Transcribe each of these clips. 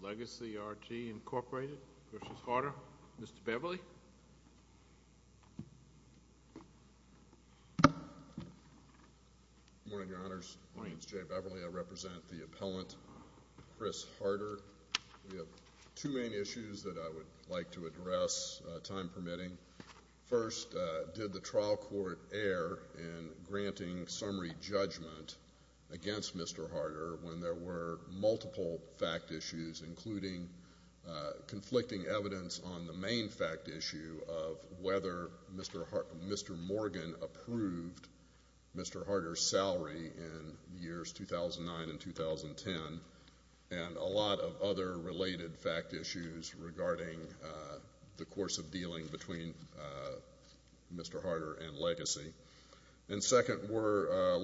Legacy R.T., Incorporated v. Harter. Mr. Beverly. Good morning, Your Honors. My name is Jay Beverly. I represent the appellant, Chris Harter. We have two main issues that I would like to address, time permitting. First, did the trial court err in granting summary judgment against Mr. Harter when there were multiple fact issues, including conflicting evidence on the main fact issue of whether Mr. Morgan approved Mr. Harter's salary in the years 2009 and 2010, and a lot of other related fact issues regarding the course of dealing between Mr. Harter and Legacy. And second, were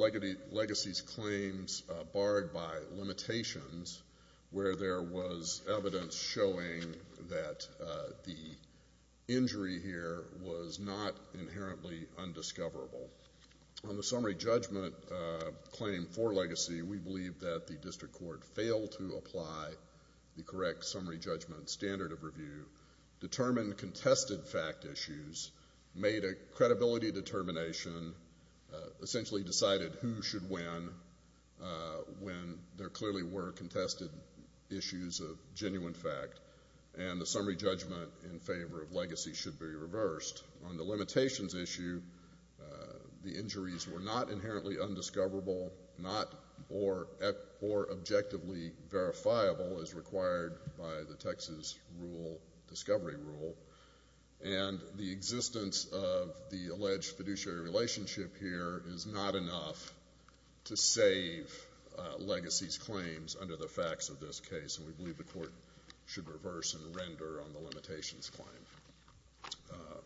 Legacy's claims barred by limitations, where there was evidence showing that the injury here was not inherently undiscoverable? On the summary judgment claim for Legacy, we believe that the district court failed to apply the correct summary judgment standard of review, determine contested fact issues, made a credibility determination, essentially decided who should win when there clearly were contested issues of genuine fact, and the summary judgment in favor of Legacy should be reversed. On the limitations issue, the injuries were not inherently undiscoverable, not or objectively verifiable as required by the Texas rule, discovery rule, and the existence of the alleged fiduciary relationship here is not enough to save Legacy's claims under the facts of this case, and we believe the court should reverse and render on the limitations claim.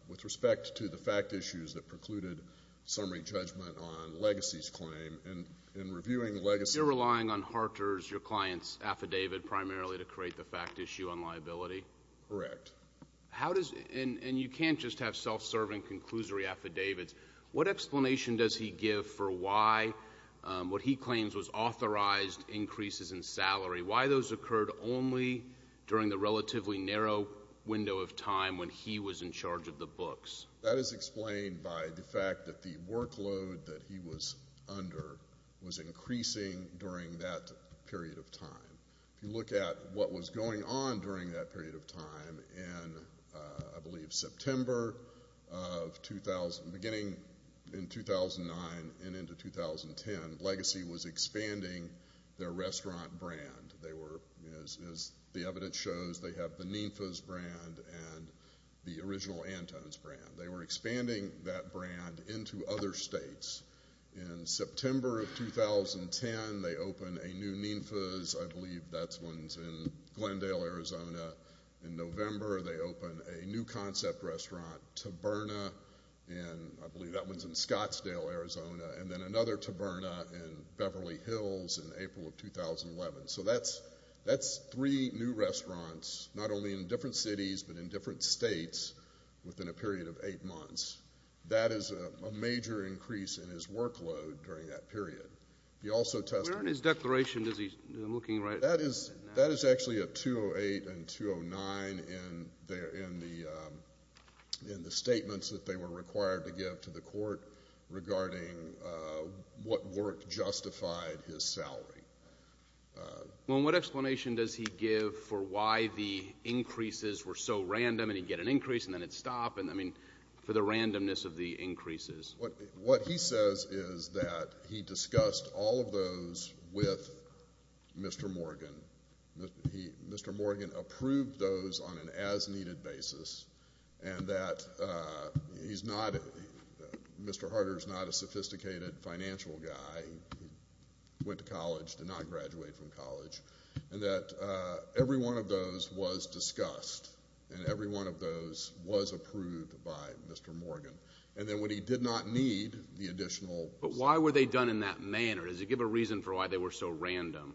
With respect to the fact issues that precluded summary judgment on Legacy's claim and in reviewing Legacy's claim. You're relying on Harter's, your client's, affidavit primarily to create the fact issue on liability? Correct. And you can't just have self-serving conclusory affidavits. What explanation does he give for why what he claims was authorized increases in salary? Why those occurred only during the relatively narrow window of time when he was in charge of the books? That is explained by the fact that the workload that he was under was increasing during that period of time. If you look at what was going on during that period of time in, I believe, September of 2000, beginning in 2009 and into 2010, Legacy was expanding their restaurant brand. As the evidence shows, they have the Ninfas brand and the original Antones brand. They were expanding that brand into other states. In September of 2010, they opened a new Ninfas. I believe that one's in Glendale, Arizona. In November, they opened a new concept restaurant, Taberna, and I believe that one's in Scottsdale, Arizona, and then another Taberna in Beverly Hills in April of 2011. So that's three new restaurants, not only in different cities but in different states, within a period of eight months. That is a major increase in his workload during that period. Where in his declaration is he looking right now? That is actually at 208 and 209 in the statements that they were required to give to the court regarding what work justified his salary. Well, and what explanation does he give for why the increases were so random, and he'd get an increase and then it'd stop, and, I mean, for the randomness of the increases? What he says is that he discussed all of those with Mr. Morgan. Mr. Morgan approved those on an as-needed basis and that he's not, Mr. Harder's not a sophisticated financial guy. He went to college, did not graduate from college, and that every one of those was discussed and every one of those was approved by Mr. Morgan. And then when he did not need the additional. But why were they done in that manner? Does he give a reason for why they were so random?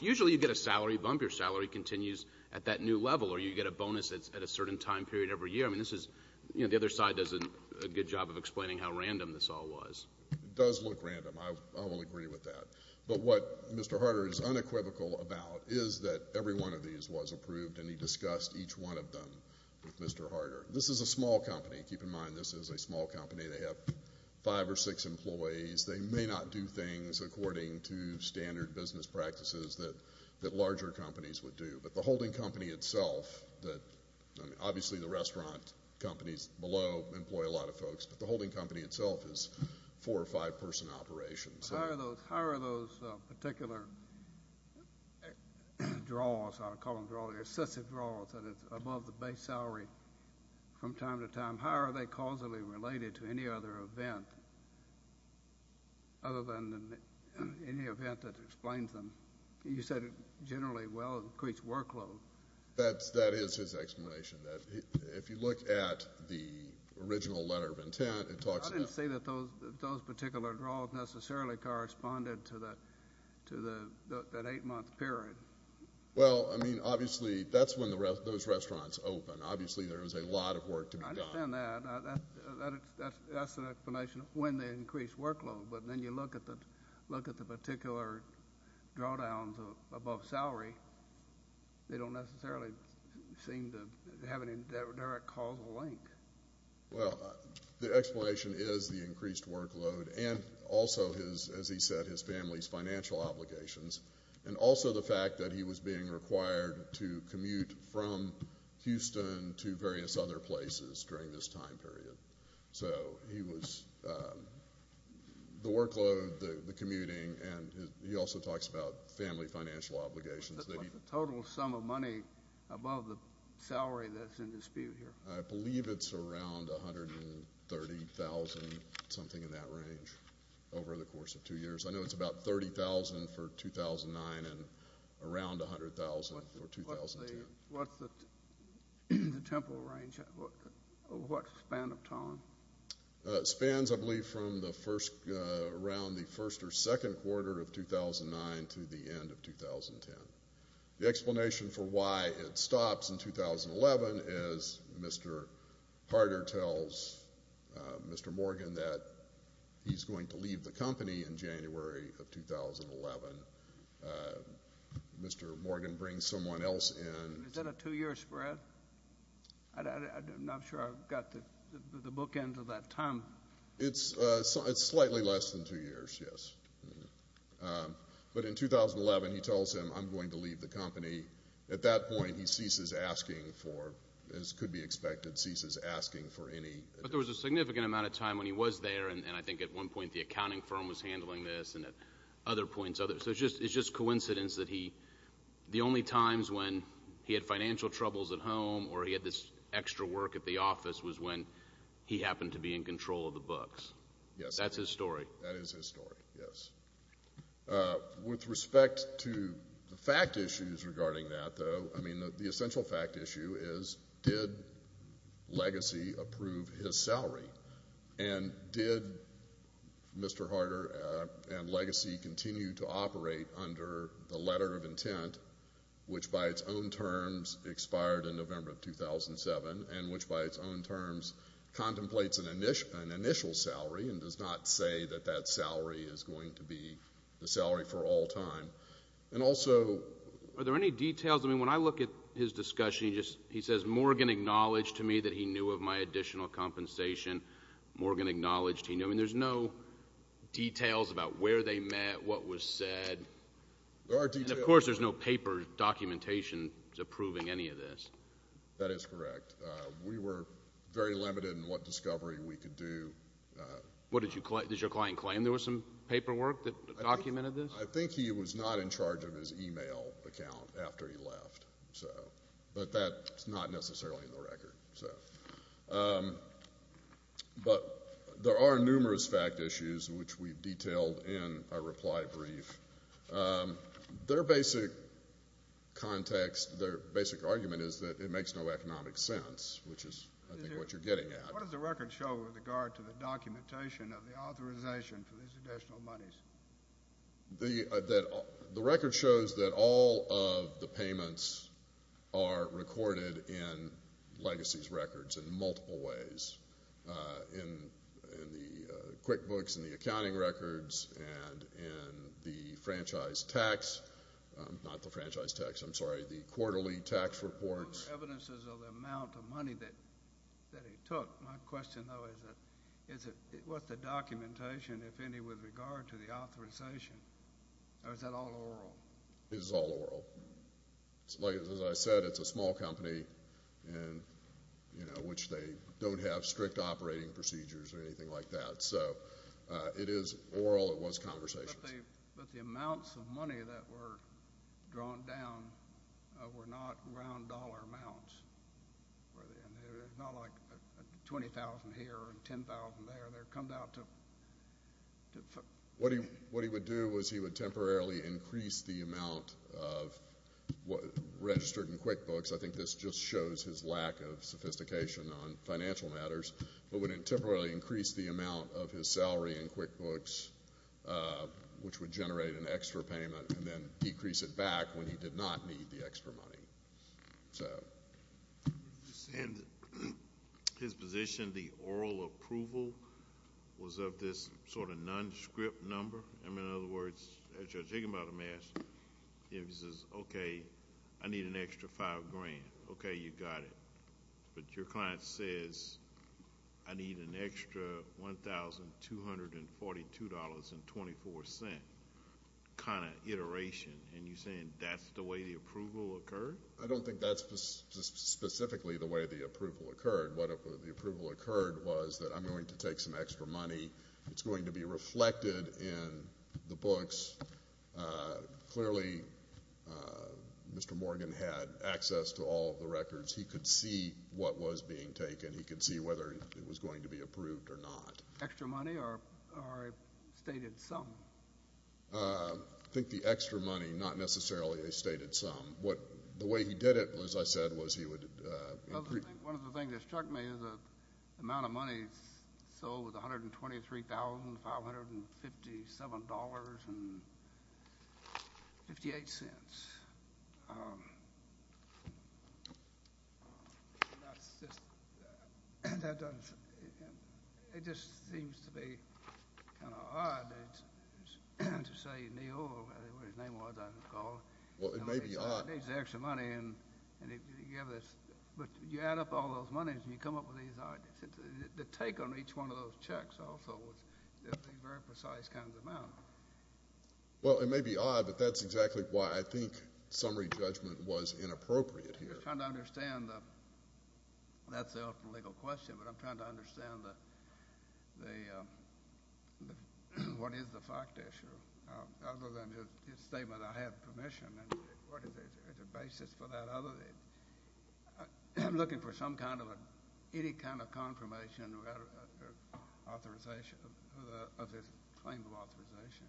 Usually you get a salary bump. Your salary continues at that new level or you get a bonus at a certain time period every year. I mean, this is, you know, the other side does a good job of explaining how random this all was. It does look random. I will agree with that. But what Mr. Harder is unequivocal about is that every one of these was approved and he discussed each one of them with Mr. Harder. This is a small company. Keep in mind this is a small company. They have five or six employees. They may not do things according to standard business practices that larger companies would do. But the holding company itself, obviously the restaurant companies below employ a lot of folks, but the holding company itself is four or five person operations. How are those particular draws, I'll call them draws, excessive draws that is above the base salary from time to time, how are they causally related to any other event other than any event that explains them? You said it generally will increase workload. That is his explanation. If you look at the original letter of intent, it talks about. I don't see that those particular draws necessarily corresponded to that eight-month period. Well, I mean, obviously that's when those restaurants open. Obviously there is a lot of work to be done. I understand that. That's an explanation of when they increase workload. But then you look at the particular drawdowns above salary, they don't necessarily seem to have any direct causal link. Well, the explanation is the increased workload and also, as he said, his family's financial obligations, and also the fact that he was being required to commute from Houston to various other places during this time period. So he was the workload, the commuting, and he also talks about family financial obligations. What's the total sum of money above the salary that's in dispute here? I believe it's around $130,000, something in that range, over the course of two years. I know it's about $30,000 for 2009 and around $100,000 for 2010. What's the temporal range? What's the span of time? Spans, I believe, from around the first or second quarter of 2009 to the end of 2010. The explanation for why it stops in 2011 is Mr. Harder tells Mr. Morgan that he's going to leave the company in January of 2011. Mr. Morgan brings someone else in. Is that a two-year spread? I'm not sure I've got the book end of that time. It's slightly less than two years, yes. But in 2011, he tells him, I'm going to leave the company. At that point, he ceases asking for, as could be expected, ceases asking for any advice. But there was a significant amount of time when he was there, and I think at one point the accounting firm was handling this and at other points. So it's just coincidence that the only times when he had financial troubles at home or he had this extra work at the office was when he happened to be in control of the books. Yes. That's his story. That is his story, yes. With respect to the fact issues regarding that, though, I mean, the essential fact issue is, did Legacy approve his salary? And did Mr. Harder and Legacy continue to operate under the letter of intent, which by its own terms expired in November of 2007 and which by its own terms contemplates an initial salary and does not say that that salary is going to be the salary for all time? And also are there any details? I mean, when I look at his discussion, he says, Morgan acknowledged to me that he knew of my additional compensation. Morgan acknowledged he knew. I mean, there's no details about where they met, what was said. There are details. And, of course, there's no paper documentation approving any of this. That is correct. We were very limited in what discovery we could do. What did your client claim? There was some paperwork that documented this? I think he was not in charge of his e-mail account after he left. But that's not necessarily in the record. But there are numerous fact issues, which we've detailed in our reply brief. Their basic context, their basic argument is that it makes no economic sense, which is, I think, what you're getting at. What does the record show with regard to the documentation of the authorization for these additional monies? The record shows that all of the payments are recorded in legacies records in multiple ways, in the QuickBooks, in the accounting records, and in the franchise tax. Not the franchise tax. I'm sorry, the quarterly tax reports. Those are evidences of the amount of money that he took. My question, though, is what's the documentation, if any, with regard to the authorization? Or is that all oral? It is all oral. As I said, it's a small company in which they don't have strict operating procedures or anything like that. So it is oral. It was conversations. But the amounts of money that were drawn down were not round dollar amounts. It's not like $20,000 here and $10,000 there. What he would do is he would temporarily increase the amount registered in QuickBooks. I think this just shows his lack of sophistication on financial matters, but would temporarily increase the amount of his salary in QuickBooks, which would generate an extra payment, and then decrease it back when he did not need the extra money. Sir? You're saying that his position, the oral approval, was of this sort of non-script number? In other words, as you're thinking about it, he says, okay, I need an extra $5,000. Okay, you got it. But your client says, I need an extra $1,242.24 kind of iteration. And you're saying that's the way the approval occurred? I don't think that's specifically the way the approval occurred. What the approval occurred was that I'm going to take some extra money. It's going to be reflected in the books. Clearly, Mr. Morgan had access to all of the records. He could see what was being taken. He could see whether it was going to be approved or not. Extra money or a stated sum? I think the extra money, not necessarily a stated sum. The way he did it, as I said, was he would increase. One of the things that struck me is the amount of money sold was $123,557.58. It just seems to be kind of odd to say, Neal, or whatever his name was, I recall. Well, it may be odd. He needs the extra money. But you add up all those monies, and you come up with these odd. The take on each one of those checks also was a very precise kind of amount. Well, it may be odd, but that's exactly why I think summary judgment was inappropriate here. I'm just trying to understand. That's an open legal question, but I'm trying to understand what is the fact issue. Other than his statement, I have permission. What is the basis for that? I'm looking for any kind of confirmation of his claim of authorization.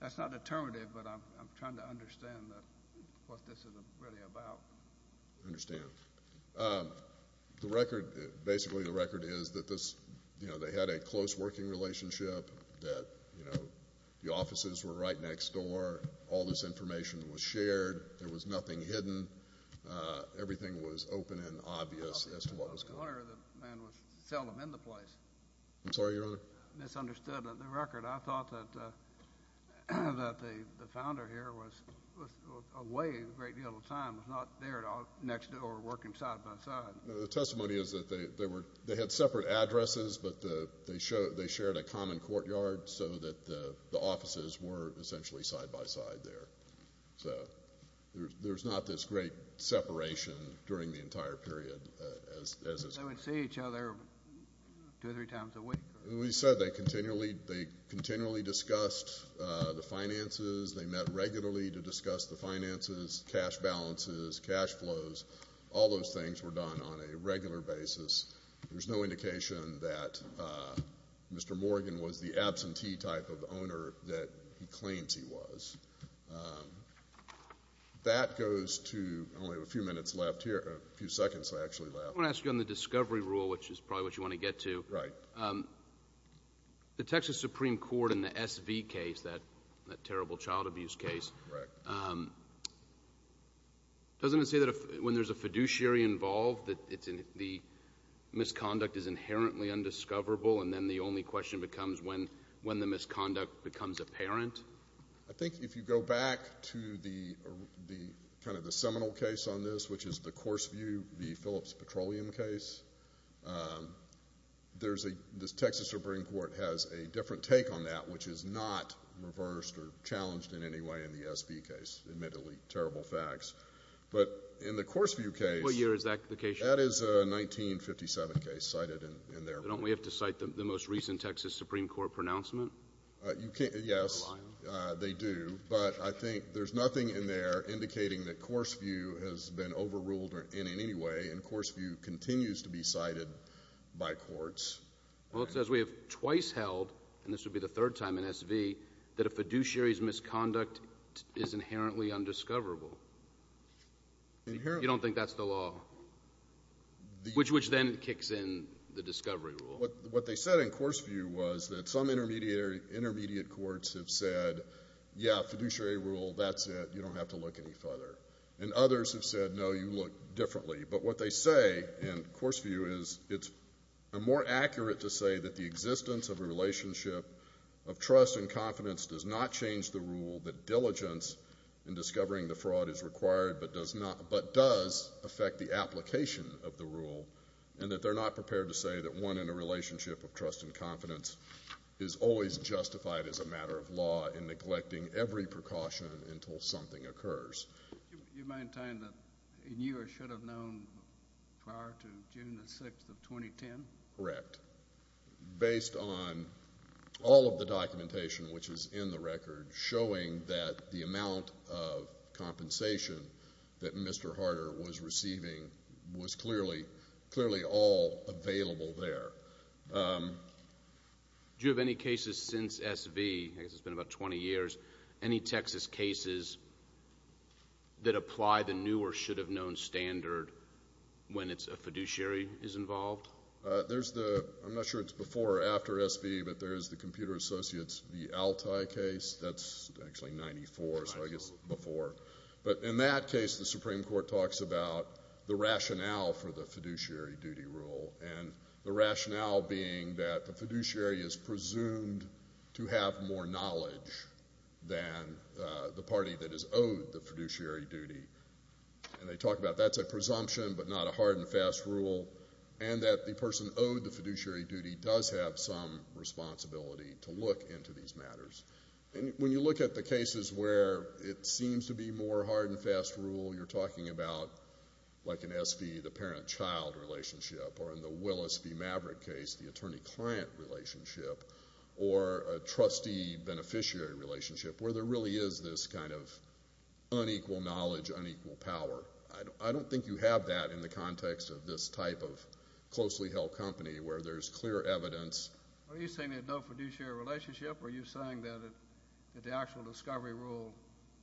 That's not determinative, but I'm trying to understand what this is really about. I understand. Basically, the record is that they had a close working relationship, that the offices were right next door. All this information was shared. There was nothing hidden. Everything was open and obvious as to what was going on. The owner of the man was seldom in the place. I'm sorry, Your Honor? I misunderstood the record. I thought that the founder here was away a great deal of time, was not there next door working side by side. No, the testimony is that they had separate addresses, but they shared a common courtyard so that the offices were essentially side by side there. So there's not this great separation during the entire period. They would see each other two or three times a week? We said they continually discussed the finances. They met regularly to discuss the finances, cash balances, cash flows. All those things were done on a regular basis. There's no indication that Mr. Morgan was the absentee type of owner that he claims he was. That goes to only a few minutes left here, a few seconds actually left. I want to ask you on the discovery rule, which is probably what you want to get to. Right. The Texas Supreme Court in the SV case, that terrible child abuse case, Correct. Doesn't it say that when there's a fiduciary involved that the misconduct is inherently undiscoverable and then the only question becomes when the misconduct becomes apparent? I think if you go back to kind of the seminal case on this, which is the course view, the Phillips Petroleum case, the Texas Supreme Court has a different take on that, which is not reversed or challenged in any way in the SV case. Admittedly, terrible facts. But in the course view case. What year is that case? That is a 1957 case cited in there. Don't we have to cite the most recent Texas Supreme Court pronouncement? Yes, they do. But I think there's nothing in there indicating that course view has been overruled in any way and course view continues to be cited by courts. Well, it says we have twice held, and this would be the third time in SV, that a fiduciary's misconduct is inherently undiscoverable. You don't think that's the law? Which then kicks in the discovery rule. What they said in course view was that some intermediate courts have said, yeah, fiduciary rule, that's it, you don't have to look any further. And others have said, no, you look differently. But what they say in course view is it's more accurate to say that the existence of a relationship of trust and confidence does not change the rule that diligence in discovering the fraud is required but does affect the application of the rule, and that they're not prepared to say that one in a relationship of trust and confidence is always justified as a matter of law in neglecting every precaution until something occurs. Do you mind telling that you should have known prior to June the 6th of 2010? Correct. Based on all of the documentation which is in the record showing that the amount of compensation that Mr. Harder was receiving was clearly all available there. Do you have any cases since SV, I guess it's been about 20 years, any Texas cases that apply the new or should have known standard when a fiduciary is involved? There's the, I'm not sure it's before or after SV, but there's the Computer Associates v. Altai case. That's actually in 94, so I guess before. But in that case, the Supreme Court talks about the rationale for the fiduciary duty rule, and the rationale being that the fiduciary is presumed to have more knowledge than the party that is owed the fiduciary duty. And they talk about that's a presumption but not a hard and fast rule, and that the person owed the fiduciary duty does have some responsibility to look into these matters. When you look at the cases where it seems to be more hard and fast rule, you're talking about like in SV, the parent-child relationship, or in the Willis v. Maverick case, the attorney-client relationship, or a trustee-beneficiary relationship, where there really is this kind of unequal knowledge, unequal power. I don't think you have that in the context of this type of closely held company where there's clear evidence. Are you saying that no fiduciary relationship, or are you saying that the actual discovery rule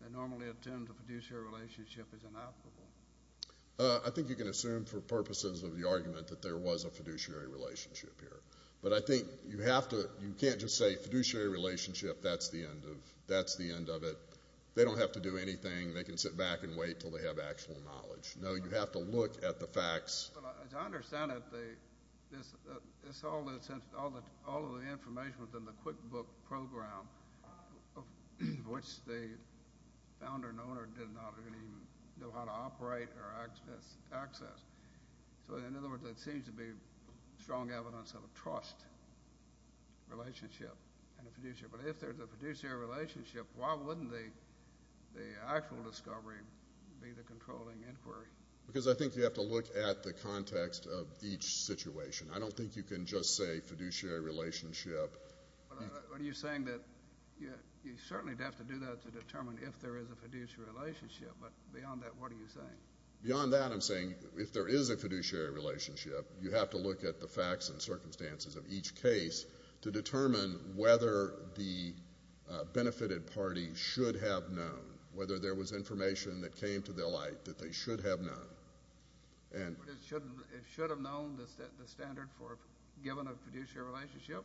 that normally attends a fiduciary relationship is inoperable? I think you can assume for purposes of the argument that there was a fiduciary relationship here. But I think you have to you can't just say fiduciary relationship, that's the end of it. They don't have to do anything. They can sit back and wait until they have actual knowledge. No, you have to look at the facts. As I understand it, all of the information was in the QuickBook program, which the founder and owner did not really know how to operate or access. So in other words, it seems to be strong evidence of a trust relationship in a fiduciary. But if there's a fiduciary relationship, why wouldn't the actual discovery be the controlling inquiry? Because I think you have to look at the context of each situation. I don't think you can just say fiduciary relationship. Are you saying that you certainly would have to do that to determine if there is a fiduciary relationship. But beyond that, what are you saying? Beyond that, I'm saying if there is a fiduciary relationship, you have to look at the facts and circumstances of each case to determine whether the benefited party should have known, whether there was information that came to their light that they should have known. It should have known the standard for a given fiduciary relationship,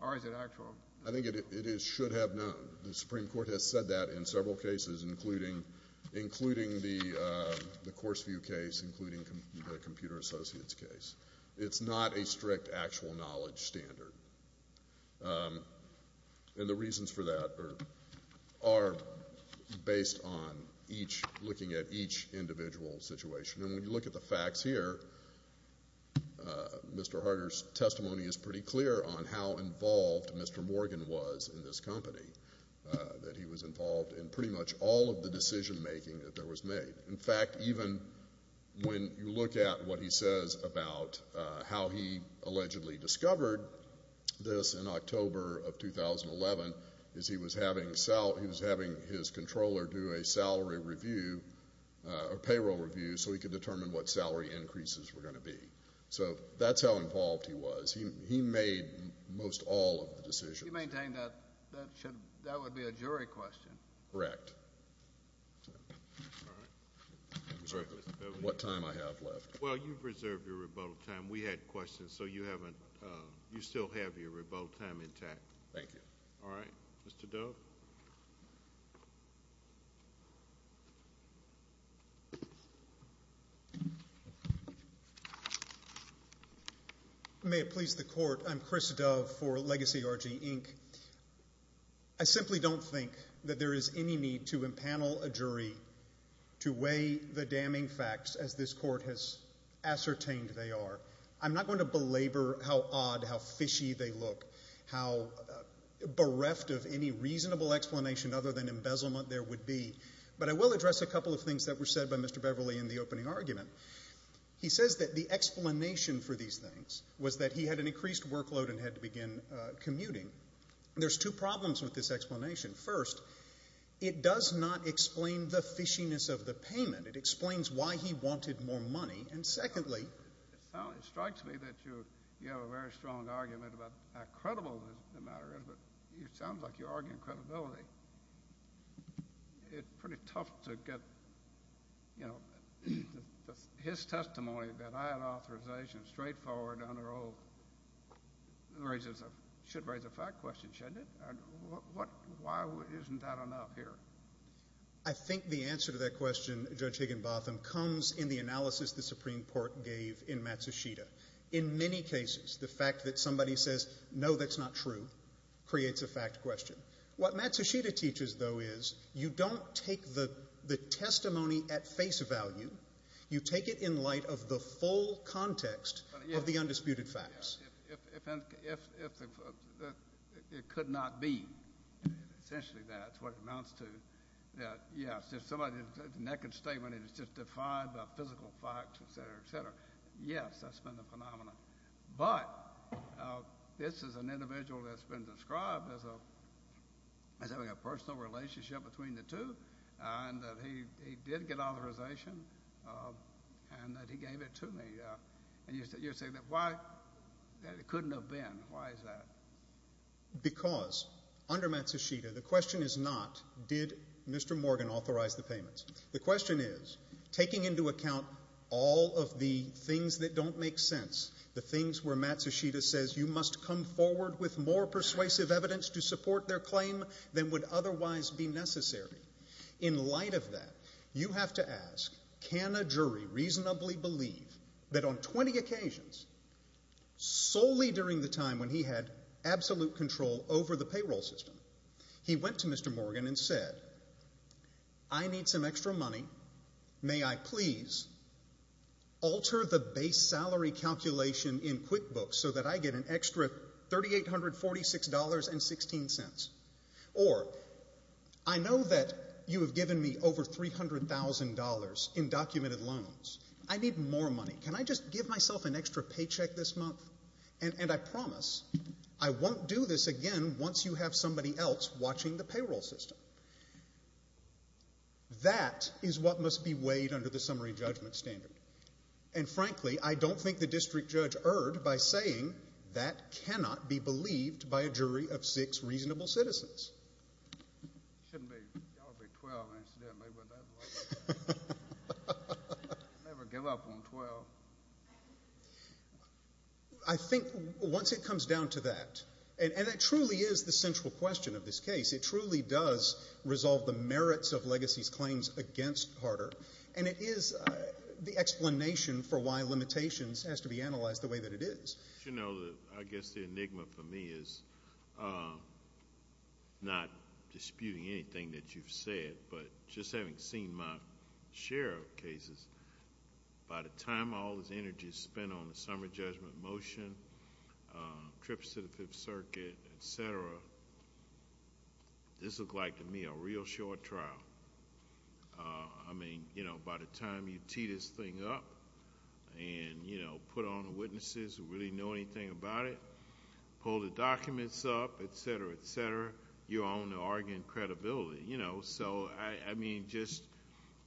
or is it actual? I think it should have known. The Supreme Court has said that in several cases, including the Courseview case, including the Computer Associates case. It's not a strict actual knowledge standard. And the reasons for that are based on looking at each individual situation. And when you look at the facts here, Mr. Harder's testimony is pretty clear on how involved Mr. Morgan was in this company, that he was involved in pretty much all of the decision making that there was made. In fact, even when you look at what he says about how he allegedly discovered this in October of 2011, is he was having his controller do a salary review, a payroll review, so he could determine what salary increases were going to be. So that's how involved he was. He made most all of the decisions. If you maintain that, that would be a jury question. Correct. All right. What time do I have left? Well, you've reserved your rebuttal time. We had questions, so you still have your rebuttal time intact. Thank you. All right. Mr. Dove? May it please the Court, I'm Chris Dove for Legacy RG, Inc. I simply don't think that there is any need to empanel a jury to weigh the damning facts, as this Court has ascertained they are. I'm not going to belabor how odd, how fishy they look, how bereft of any reasonable explanation other than embezzlement there would be, but I will address a couple of things that were said by Mr. Beverly in the opening argument. He says that the explanation for these things was that he had an increased workload and had to begin commuting. There's two problems with this explanation. First, it does not explain the fishiness of the payment. It explains why he wanted more money. And secondly, it strikes me that you have a very strong argument about how credible the matter is, but it sounds like you're arguing credibility. It's pretty tough to get, you know, his testimony that I had authorization straightforward under oath should raise a fact question, shouldn't it? Why isn't that enough here? I think the answer to that question, Judge Higginbotham, comes in the analysis the Supreme Court gave in Matsushita. In many cases, the fact that somebody says, no, that's not true, creates a fact question. What Matsushita teaches, though, is you don't take the testimony at face value. You take it in light of the full context of the undisputed facts. It could not be. Essentially, that's what it amounts to, that, yes, if somebody's naked statement is just defined by physical facts, et cetera, et cetera, yes, that's been a phenomenon. But this is an individual that's been described as having a personal relationship between the two and that he did get authorization and that he gave it to me. And you're saying that it couldn't have been. Why is that? Because under Matsushita, the question is not did Mr. Morgan authorize the payments. The question is taking into account all of the things that don't make sense, the things where Matsushita says you must come forward with more persuasive evidence to support their claim than would otherwise be necessary. In light of that, you have to ask can a jury reasonably believe that on 20 occasions, solely during the time when he had absolute control over the payroll system, he went to Mr. Morgan and said, I need some extra money. May I please alter the base salary calculation in QuickBooks so that I get an extra $3,846.16? Or I know that you have given me over $300,000 in documented loans. I need more money. Can I just give myself an extra paycheck this month? And I promise I won't do this again once you have somebody else watching the payroll system. That is what must be weighed under the summary judgment standard. And frankly, I don't think the district judge erred by saying that cannot be believed by a jury of six reasonable citizens. Shouldn't y'all be 12, incidentally. Never give up on 12. I think once it comes down to that, and it truly is the central question of this case, it truly does resolve the merits of Legacy's claims against Carter, and it is the explanation for why limitations has to be analyzed the way that it is. You know, I guess the enigma for me is not disputing anything that you've said, but just having seen my share of cases, by the time all this energy is spent on the summary judgment motion, trips to the Fifth Circuit, et cetera, this looked like to me a real short trial. I mean, you know, by the time you tee this thing up and, you know, put on the witnesses who really know anything about it, pull the documents up, et cetera, et cetera, you're on to arguing credibility. You know, so, I mean, just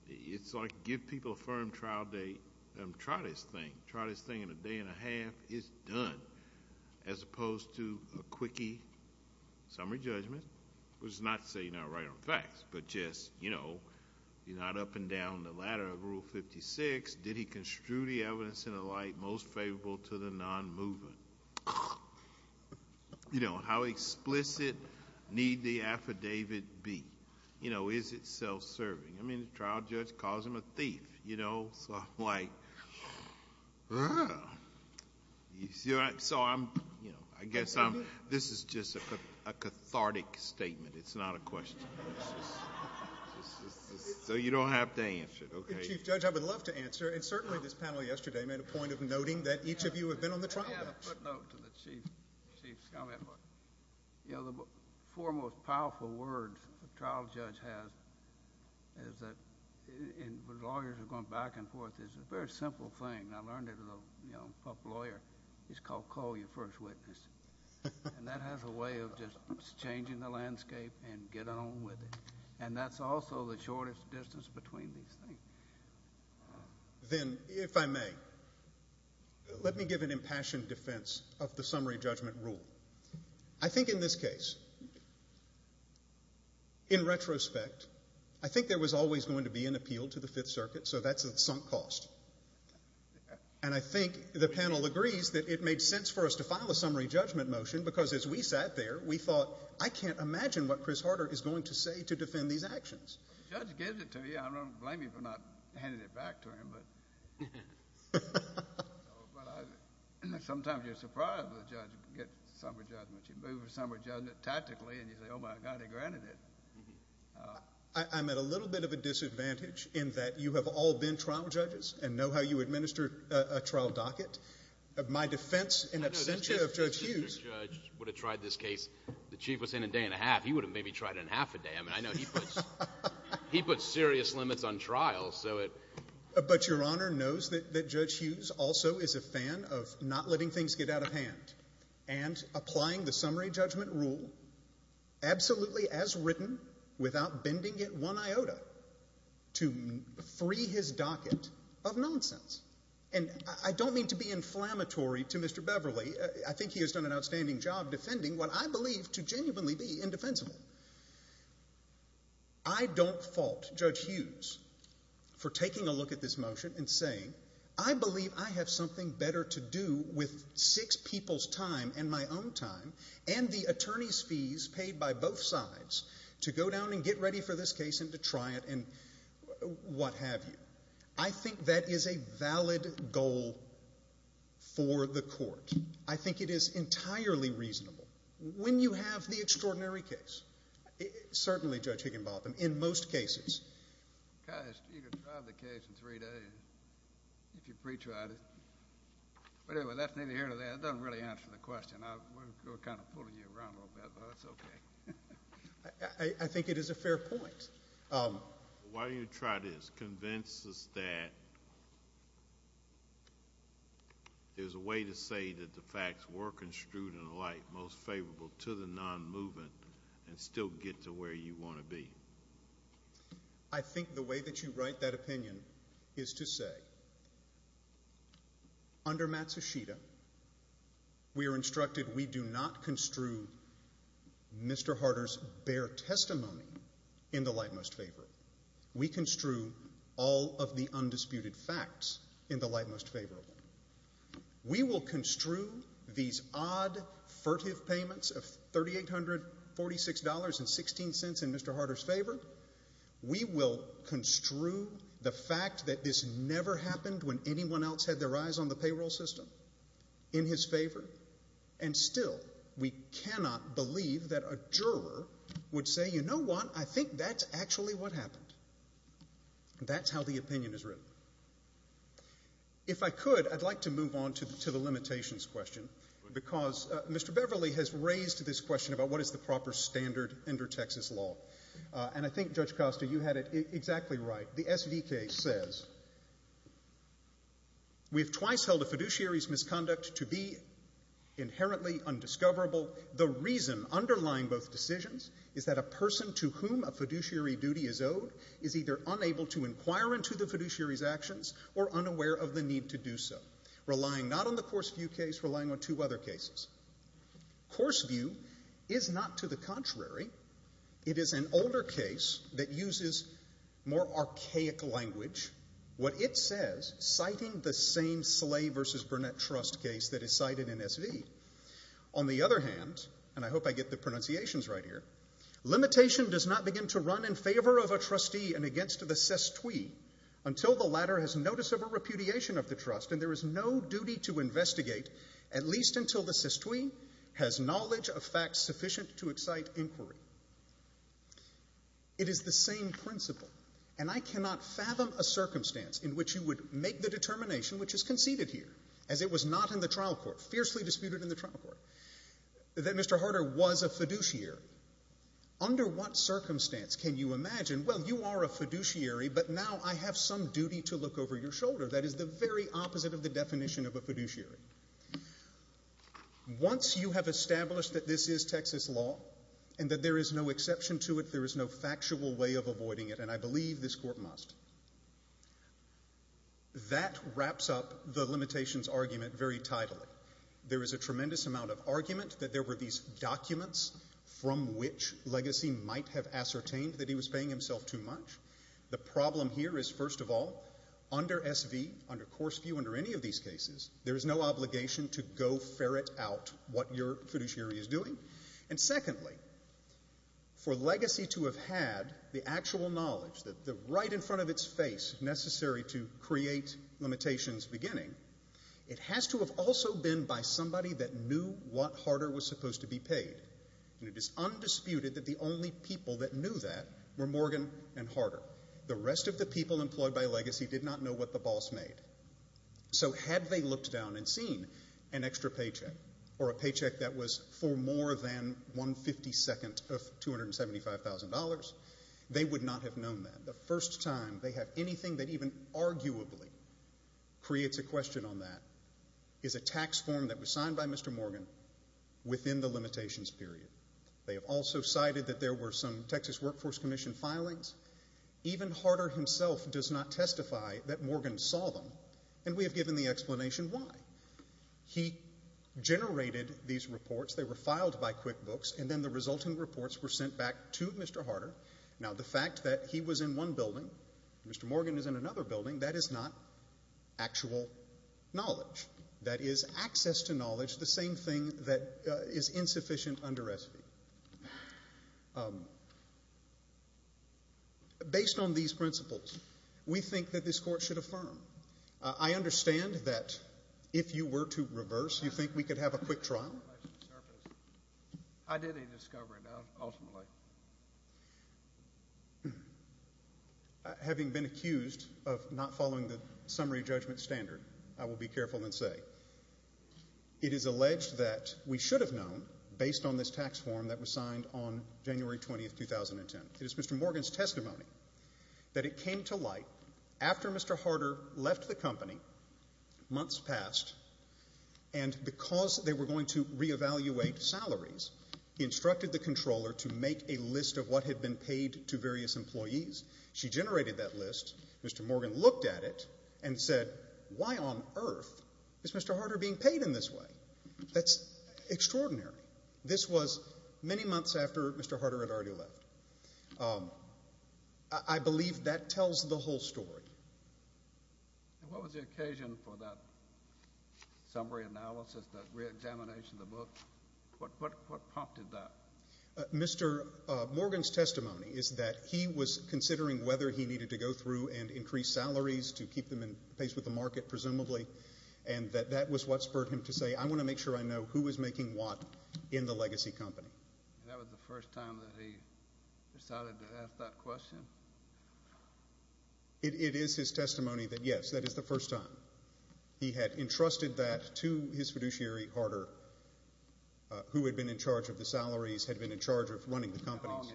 it's like give people a firm trial date and try this thing. Try this thing in a day and a half, it's done, as opposed to a quickie summary judgment, which is not to say you're not right on facts, but just, you know, you're not up and down the ladder of Rule 56. Did he construe the evidence in a light most favorable to the non-movement? You know, how explicit need the affidavit be? You know, is it self-serving? I mean, the trial judge calls him a thief, you know, so I'm like, ah. You see what I'm, so I'm, you know, I guess I'm, this is just a cathartic statement. It's not a question. So you don't have to answer it, okay. Chief Judge, I would love to answer, and certainly this panel yesterday made a point of noting that each of you have been on the trial. I have a footnote to the Chief's comment. You know, the four most powerful words a trial judge has is that, and when lawyers are going back and forth, it's a very simple thing. I learned it, you know, from a lawyer. It's called call your first witness. And that has a way of just changing the landscape and getting on with it. And that's also the shortest distance between these things. Then, if I may, let me give an impassioned defense of the summary judgment rule. I think in this case, in retrospect, I think there was always going to be an appeal to the Fifth Circuit, so that's a sunk cost. And I think the panel agrees that it made sense for us to file a summary judgment motion, because as we sat there, we thought, I can't imagine what Chris Harder is going to say to defend these actions. The judge gives it to you. I don't blame you for not handing it back to him. But sometimes you're surprised when a judge gets a summary judgment. You move a summary judgment tactically, and you say, oh, my God, he granted it. I'm at a little bit of a disadvantage in that you have all been trial judges and know how you administer a trial docket. My defense in absentia of Judge Hughes. If the judge would have tried this case, the chief was in a day and a half. He would have maybe tried it in half a day. I mean, I know he puts serious limits on trials. But Your Honor knows that Judge Hughes also is a fan of not letting things get out of hand and applying the summary judgment rule absolutely as written without bending it one iota to free his docket of nonsense. And I don't mean to be inflammatory to Mr. Beverly. I think he has done an outstanding job defending what I believe to genuinely be indefensible. I don't fault Judge Hughes for taking a look at this motion and saying, I believe I have something better to do with six people's time and my own time and the attorney's fees paid by both sides to go down and get ready for this case and to try it and what have you. I think that is a valid goal for the court. I think it is entirely reasonable. When you have the extraordinary case, certainly Judge Higginbotham, in most cases. Guys, you can try the case in three days if you pre-tried it. But anyway, that's the end of that. It doesn't really answer the question. We're kind of pulling you around a little bit, but that's okay. I think it is a fair point. Why don't you try this? Convince us that there's a way to say that the facts were construed in light, most favorable to the non-moving and still get to where you want to be. I think the way that you write that opinion is to say, under Matsushita, we are instructed we do not construe Mr. Harder's bare testimony in the light most favorable. We construe all of the undisputed facts in the light most favorable. We will construe these odd furtive payments of $3,846.16 in Mr. Harder's favor. We will construe the fact that this never happened when anyone else had their eyes on the payroll system in his favor. And still, we cannot believe that a juror would say, you know what, I think that's actually what happened. That's how the opinion is written. If I could, I'd like to move on to the limitations question, because Mr. Beverly has raised this question about what is the proper standard under Texas law. And I think, Judge Costa, you had it exactly right. The SVK says, we have twice held a fiduciary's misconduct to be inherently undiscoverable. The reason underlying both decisions is that a person to whom a fiduciary duty is owed is either unable to inquire into the fiduciary's actions or unaware of the need to do so, relying not on the Coarse View case, relying on two other cases. Coarse View is not to the contrary. It is an older case that uses more archaic language, what it says citing the same Slay v. Burnett trust case that is cited in SV. On the other hand, and I hope I get the pronunciations right here, limitation does not begin to run in favor of a trustee and against the sestui until the latter has notice of a repudiation of the trust, and there is no duty to investigate at least until the sestui has knowledge of facts sufficient to excite inquiry. It is the same principle, and I cannot fathom a circumstance in which you would make the determination, which is conceded here, as it was not in the trial court, fiercely disputed in the trial court, that Mr. Harder was a fiduciary. Under what circumstance can you imagine, well, you are a fiduciary, but now I have some duty to look over your shoulder. That is the very opposite of the definition of a fiduciary. Once you have established that this is Texas law and that there is no exception to it, there is no factual way of avoiding it, and I believe this court must, that wraps up the limitations argument very tidily. There is a tremendous amount of argument that there were these documents from which Legacy might have ascertained that he was paying himself too much. The problem here is, first of all, under SV, under course view, under any of these cases, there is no obligation to go ferret out what your fiduciary is doing. And secondly, for Legacy to have had the actual knowledge that right in front of its face, necessary to create limitations beginning, it has to have also been by somebody that knew what Harder was supposed to be paid. And it is undisputed that the only people that knew that were Morgan and Harder. The rest of the people employed by Legacy did not know what the boss made. So had they looked down and seen an extra paycheck or a paycheck that was for more than 1 52nd of $275,000, they would not have known that. The first time they have anything that even arguably creates a question on that is a tax form that was signed by Mr. Morgan within the limitations period. They have also cited that there were some Texas Workforce Commission filings. Even Harder himself does not testify that Morgan saw them, and we have given the explanation why. He generated these reports. They were filed by QuickBooks, and then the resulting reports were sent back to Mr. Harder. Now, the fact that he was in one building, Mr. Morgan is in another building, that is not actual knowledge. That is access to knowledge, the same thing that is insufficient under SB. Based on these principles, we think that this Court should affirm. I understand that if you were to reverse, you think we could have a quick trial. I didn't discover it, ultimately. Having been accused of not following the summary judgment standard, I will be careful and say it is alleged that we should have known, based on this tax form that was signed on January 20, 2010. It is Mr. Morgan's testimony that it came to light after Mr. Harder left the company, months passed, and because they were going to reevaluate salaries, he instructed the controller to make a list of what had been paid to various employees. She generated that list. Mr. Morgan looked at it and said, why on earth is Mr. Harder being paid in this way? That's extraordinary. This was many months after Mr. Harder had already left. I believe that tells the whole story. What was the occasion for that summary analysis, that reexamination of the book? What prompted that? Mr. Morgan's testimony is that he was considering whether he needed to go through and increase salaries to keep them in pace with the market, presumably, and that that was what spurred him to say, I want to make sure I know who is making what in the legacy company. That was the first time that he decided to ask that question? It is his testimony that, yes, that is the first time. He had entrusted that to his fiduciary, Harder, who had been in charge of the salaries, had been in charge of running the company. How long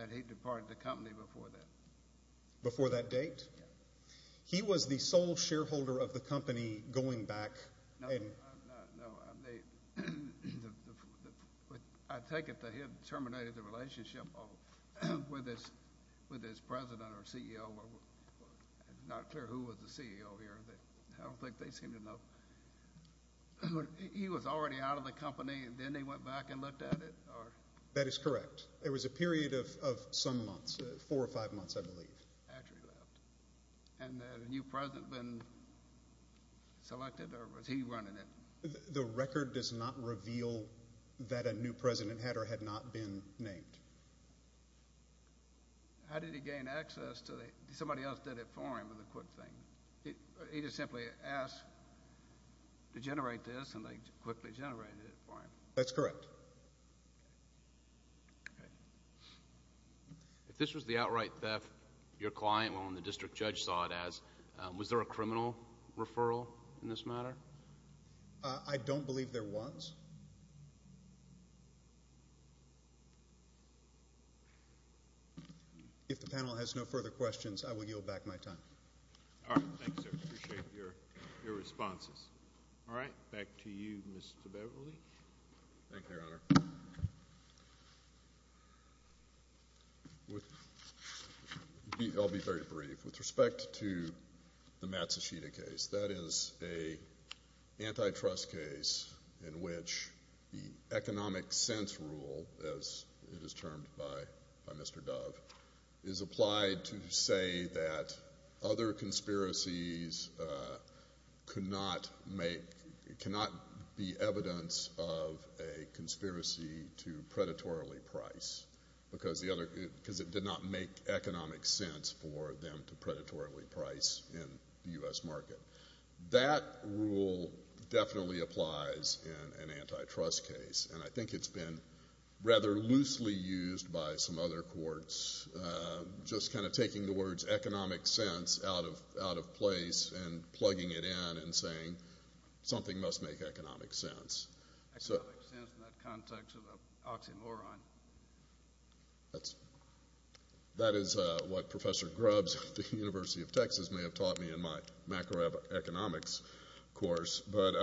had he departed the company before that? Before that date? He was the sole shareholder of the company going back. No, I take it that he had terminated the relationship with his president or CEO. It's not clear who was the CEO here. I don't think they seem to know. He was already out of the company, and then he went back and looked at it? That is correct. It was a period of some months, four or five months, I believe. And had a new president been selected, or was he running it? The record does not reveal that a new president had or had not been named. How did he gain access? Somebody else did it for him with a quick thing. He just simply asked to generate this, and they quickly generated it for him. That's correct. Okay. If this was the outright theft, your client and the district judge saw it as, was there a criminal referral in this matter? I don't believe there was. If the panel has no further questions, I will yield back my time. All right. Thanks, sir. I appreciate your responses. All right. Back to you, Mr. Beverly. Thank you, Your Honor. I'll be very brief. With respect to the Matsushita case, that is an antitrust case in which the economic sense rule, as it is termed by Mr. Dove, is applied to say that other conspiracies cannot make, because it did not make economic sense for them to predatorily price in the U.S. market. That rule definitely applies in an antitrust case, and I think it's been rather loosely used by some other courts, just kind of taking the words economic sense out of place and plugging it in saying something must make economic sense. Economic sense in the context of an oxymoron. That is what Professor Grubbs at the University of Texas may have taught me in my macroeconomics course. But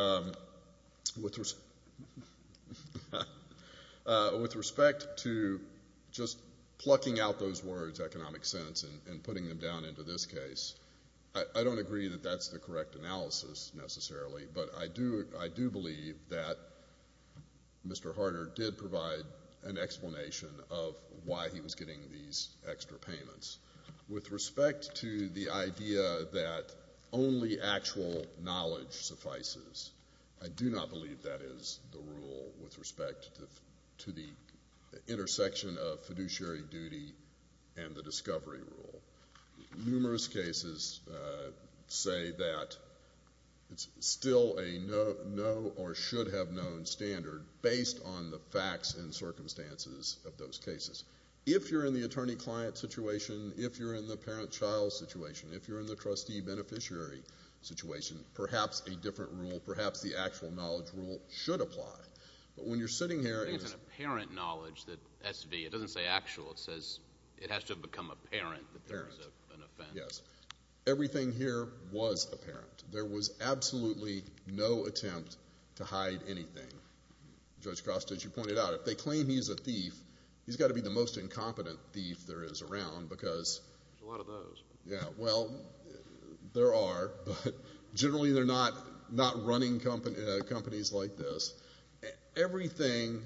with respect to just plucking out those words economic sense and putting them down into this case, I don't agree that that's the correct analysis necessarily, but I do believe that Mr. Harder did provide an explanation of why he was getting these extra payments. With respect to the idea that only actual knowledge suffices, I do not believe that is the rule with respect to the intersection of fiduciary duty and the discovery rule. Numerous cases say that it's still a no or should have known standard based on the facts and circumstances of those cases. If you're in the attorney-client situation, if you're in the parent-child situation, if you're in the trustee-beneficiary situation, perhaps a different rule, perhaps the actual knowledge rule should apply. But when you're sitting here— I think it's an apparent knowledge that S.V. It doesn't say actual. It says it has to have become apparent that there is an offense. Yes. Everything here was apparent. There was absolutely no attempt to hide anything. Judge Cross, as you pointed out, if they claim he's a thief, he's got to be the most incompetent thief there is around because— There's a lot of those. Yeah. Well, there are, but generally they're not running companies like this. Everything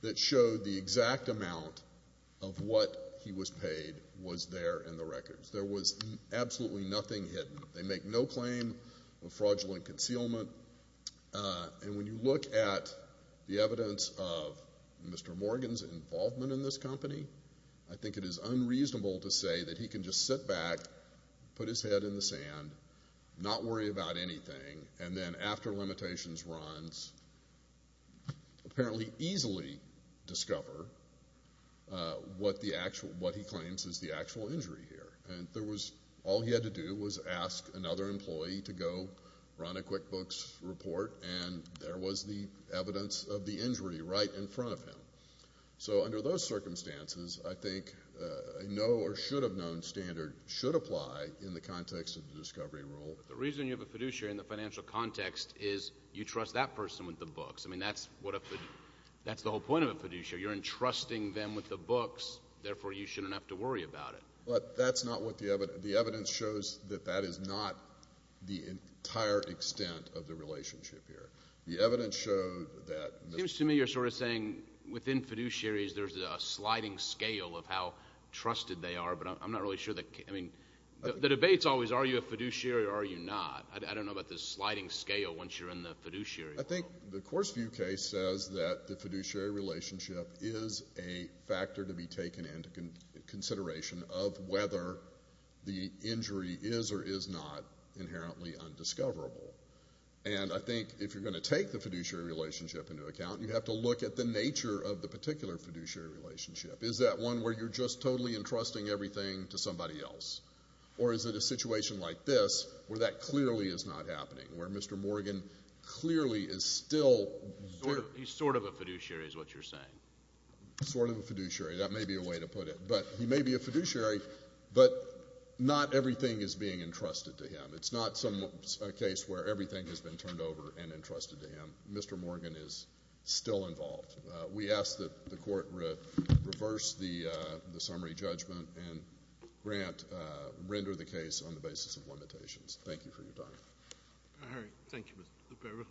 that showed the exact amount of what he was paid was there in the records. There was absolutely nothing hidden. They make no claim of fraudulent concealment. And when you look at the evidence of Mr. Morgan's involvement in this company, I think it is unreasonable to say that he can just sit back, put his head in the sand, not worry about anything, and then after limitations runs, apparently easily discover what he claims is the actual injury here. And all he had to do was ask another employee to go run a QuickBooks report, and there was the evidence of the injury right in front of him. So under those circumstances, I think a no or should have known standard should apply in the context of the discovery rule. But the reason you have a fiduciary in the financial context is you trust that person with the books. I mean, that's the whole point of a fiduciary. You're entrusting them with the books. Therefore, you shouldn't have to worry about it. But that's not what the evidence—the evidence shows that that is not the entire extent of the relationship here. The evidence showed that— In fiduciaries, there's a sliding scale of how trusted they are, but I'm not really sure that—I mean, the debate's always are you a fiduciary or are you not? I don't know about this sliding scale once you're in the fiduciary world. I think the Courseview case says that the fiduciary relationship is a factor to be taken into consideration of whether the injury is or is not inherently undiscoverable. And I think if you're going to take the fiduciary relationship into account, you have to look at the nature of the particular fiduciary relationship. Is that one where you're just totally entrusting everything to somebody else? Or is it a situation like this where that clearly is not happening, where Mr. Morgan clearly is still— He's sort of a fiduciary is what you're saying. Sort of a fiduciary. That may be a way to put it. But he may be a fiduciary, but not everything is being entrusted to him. It's not a case where everything has been turned over and entrusted to him. Mr. Morgan is still involved. We ask that the Court reverse the summary judgment and grant—render the case on the basis of limitations. Thank you for your time. All right. Thank you.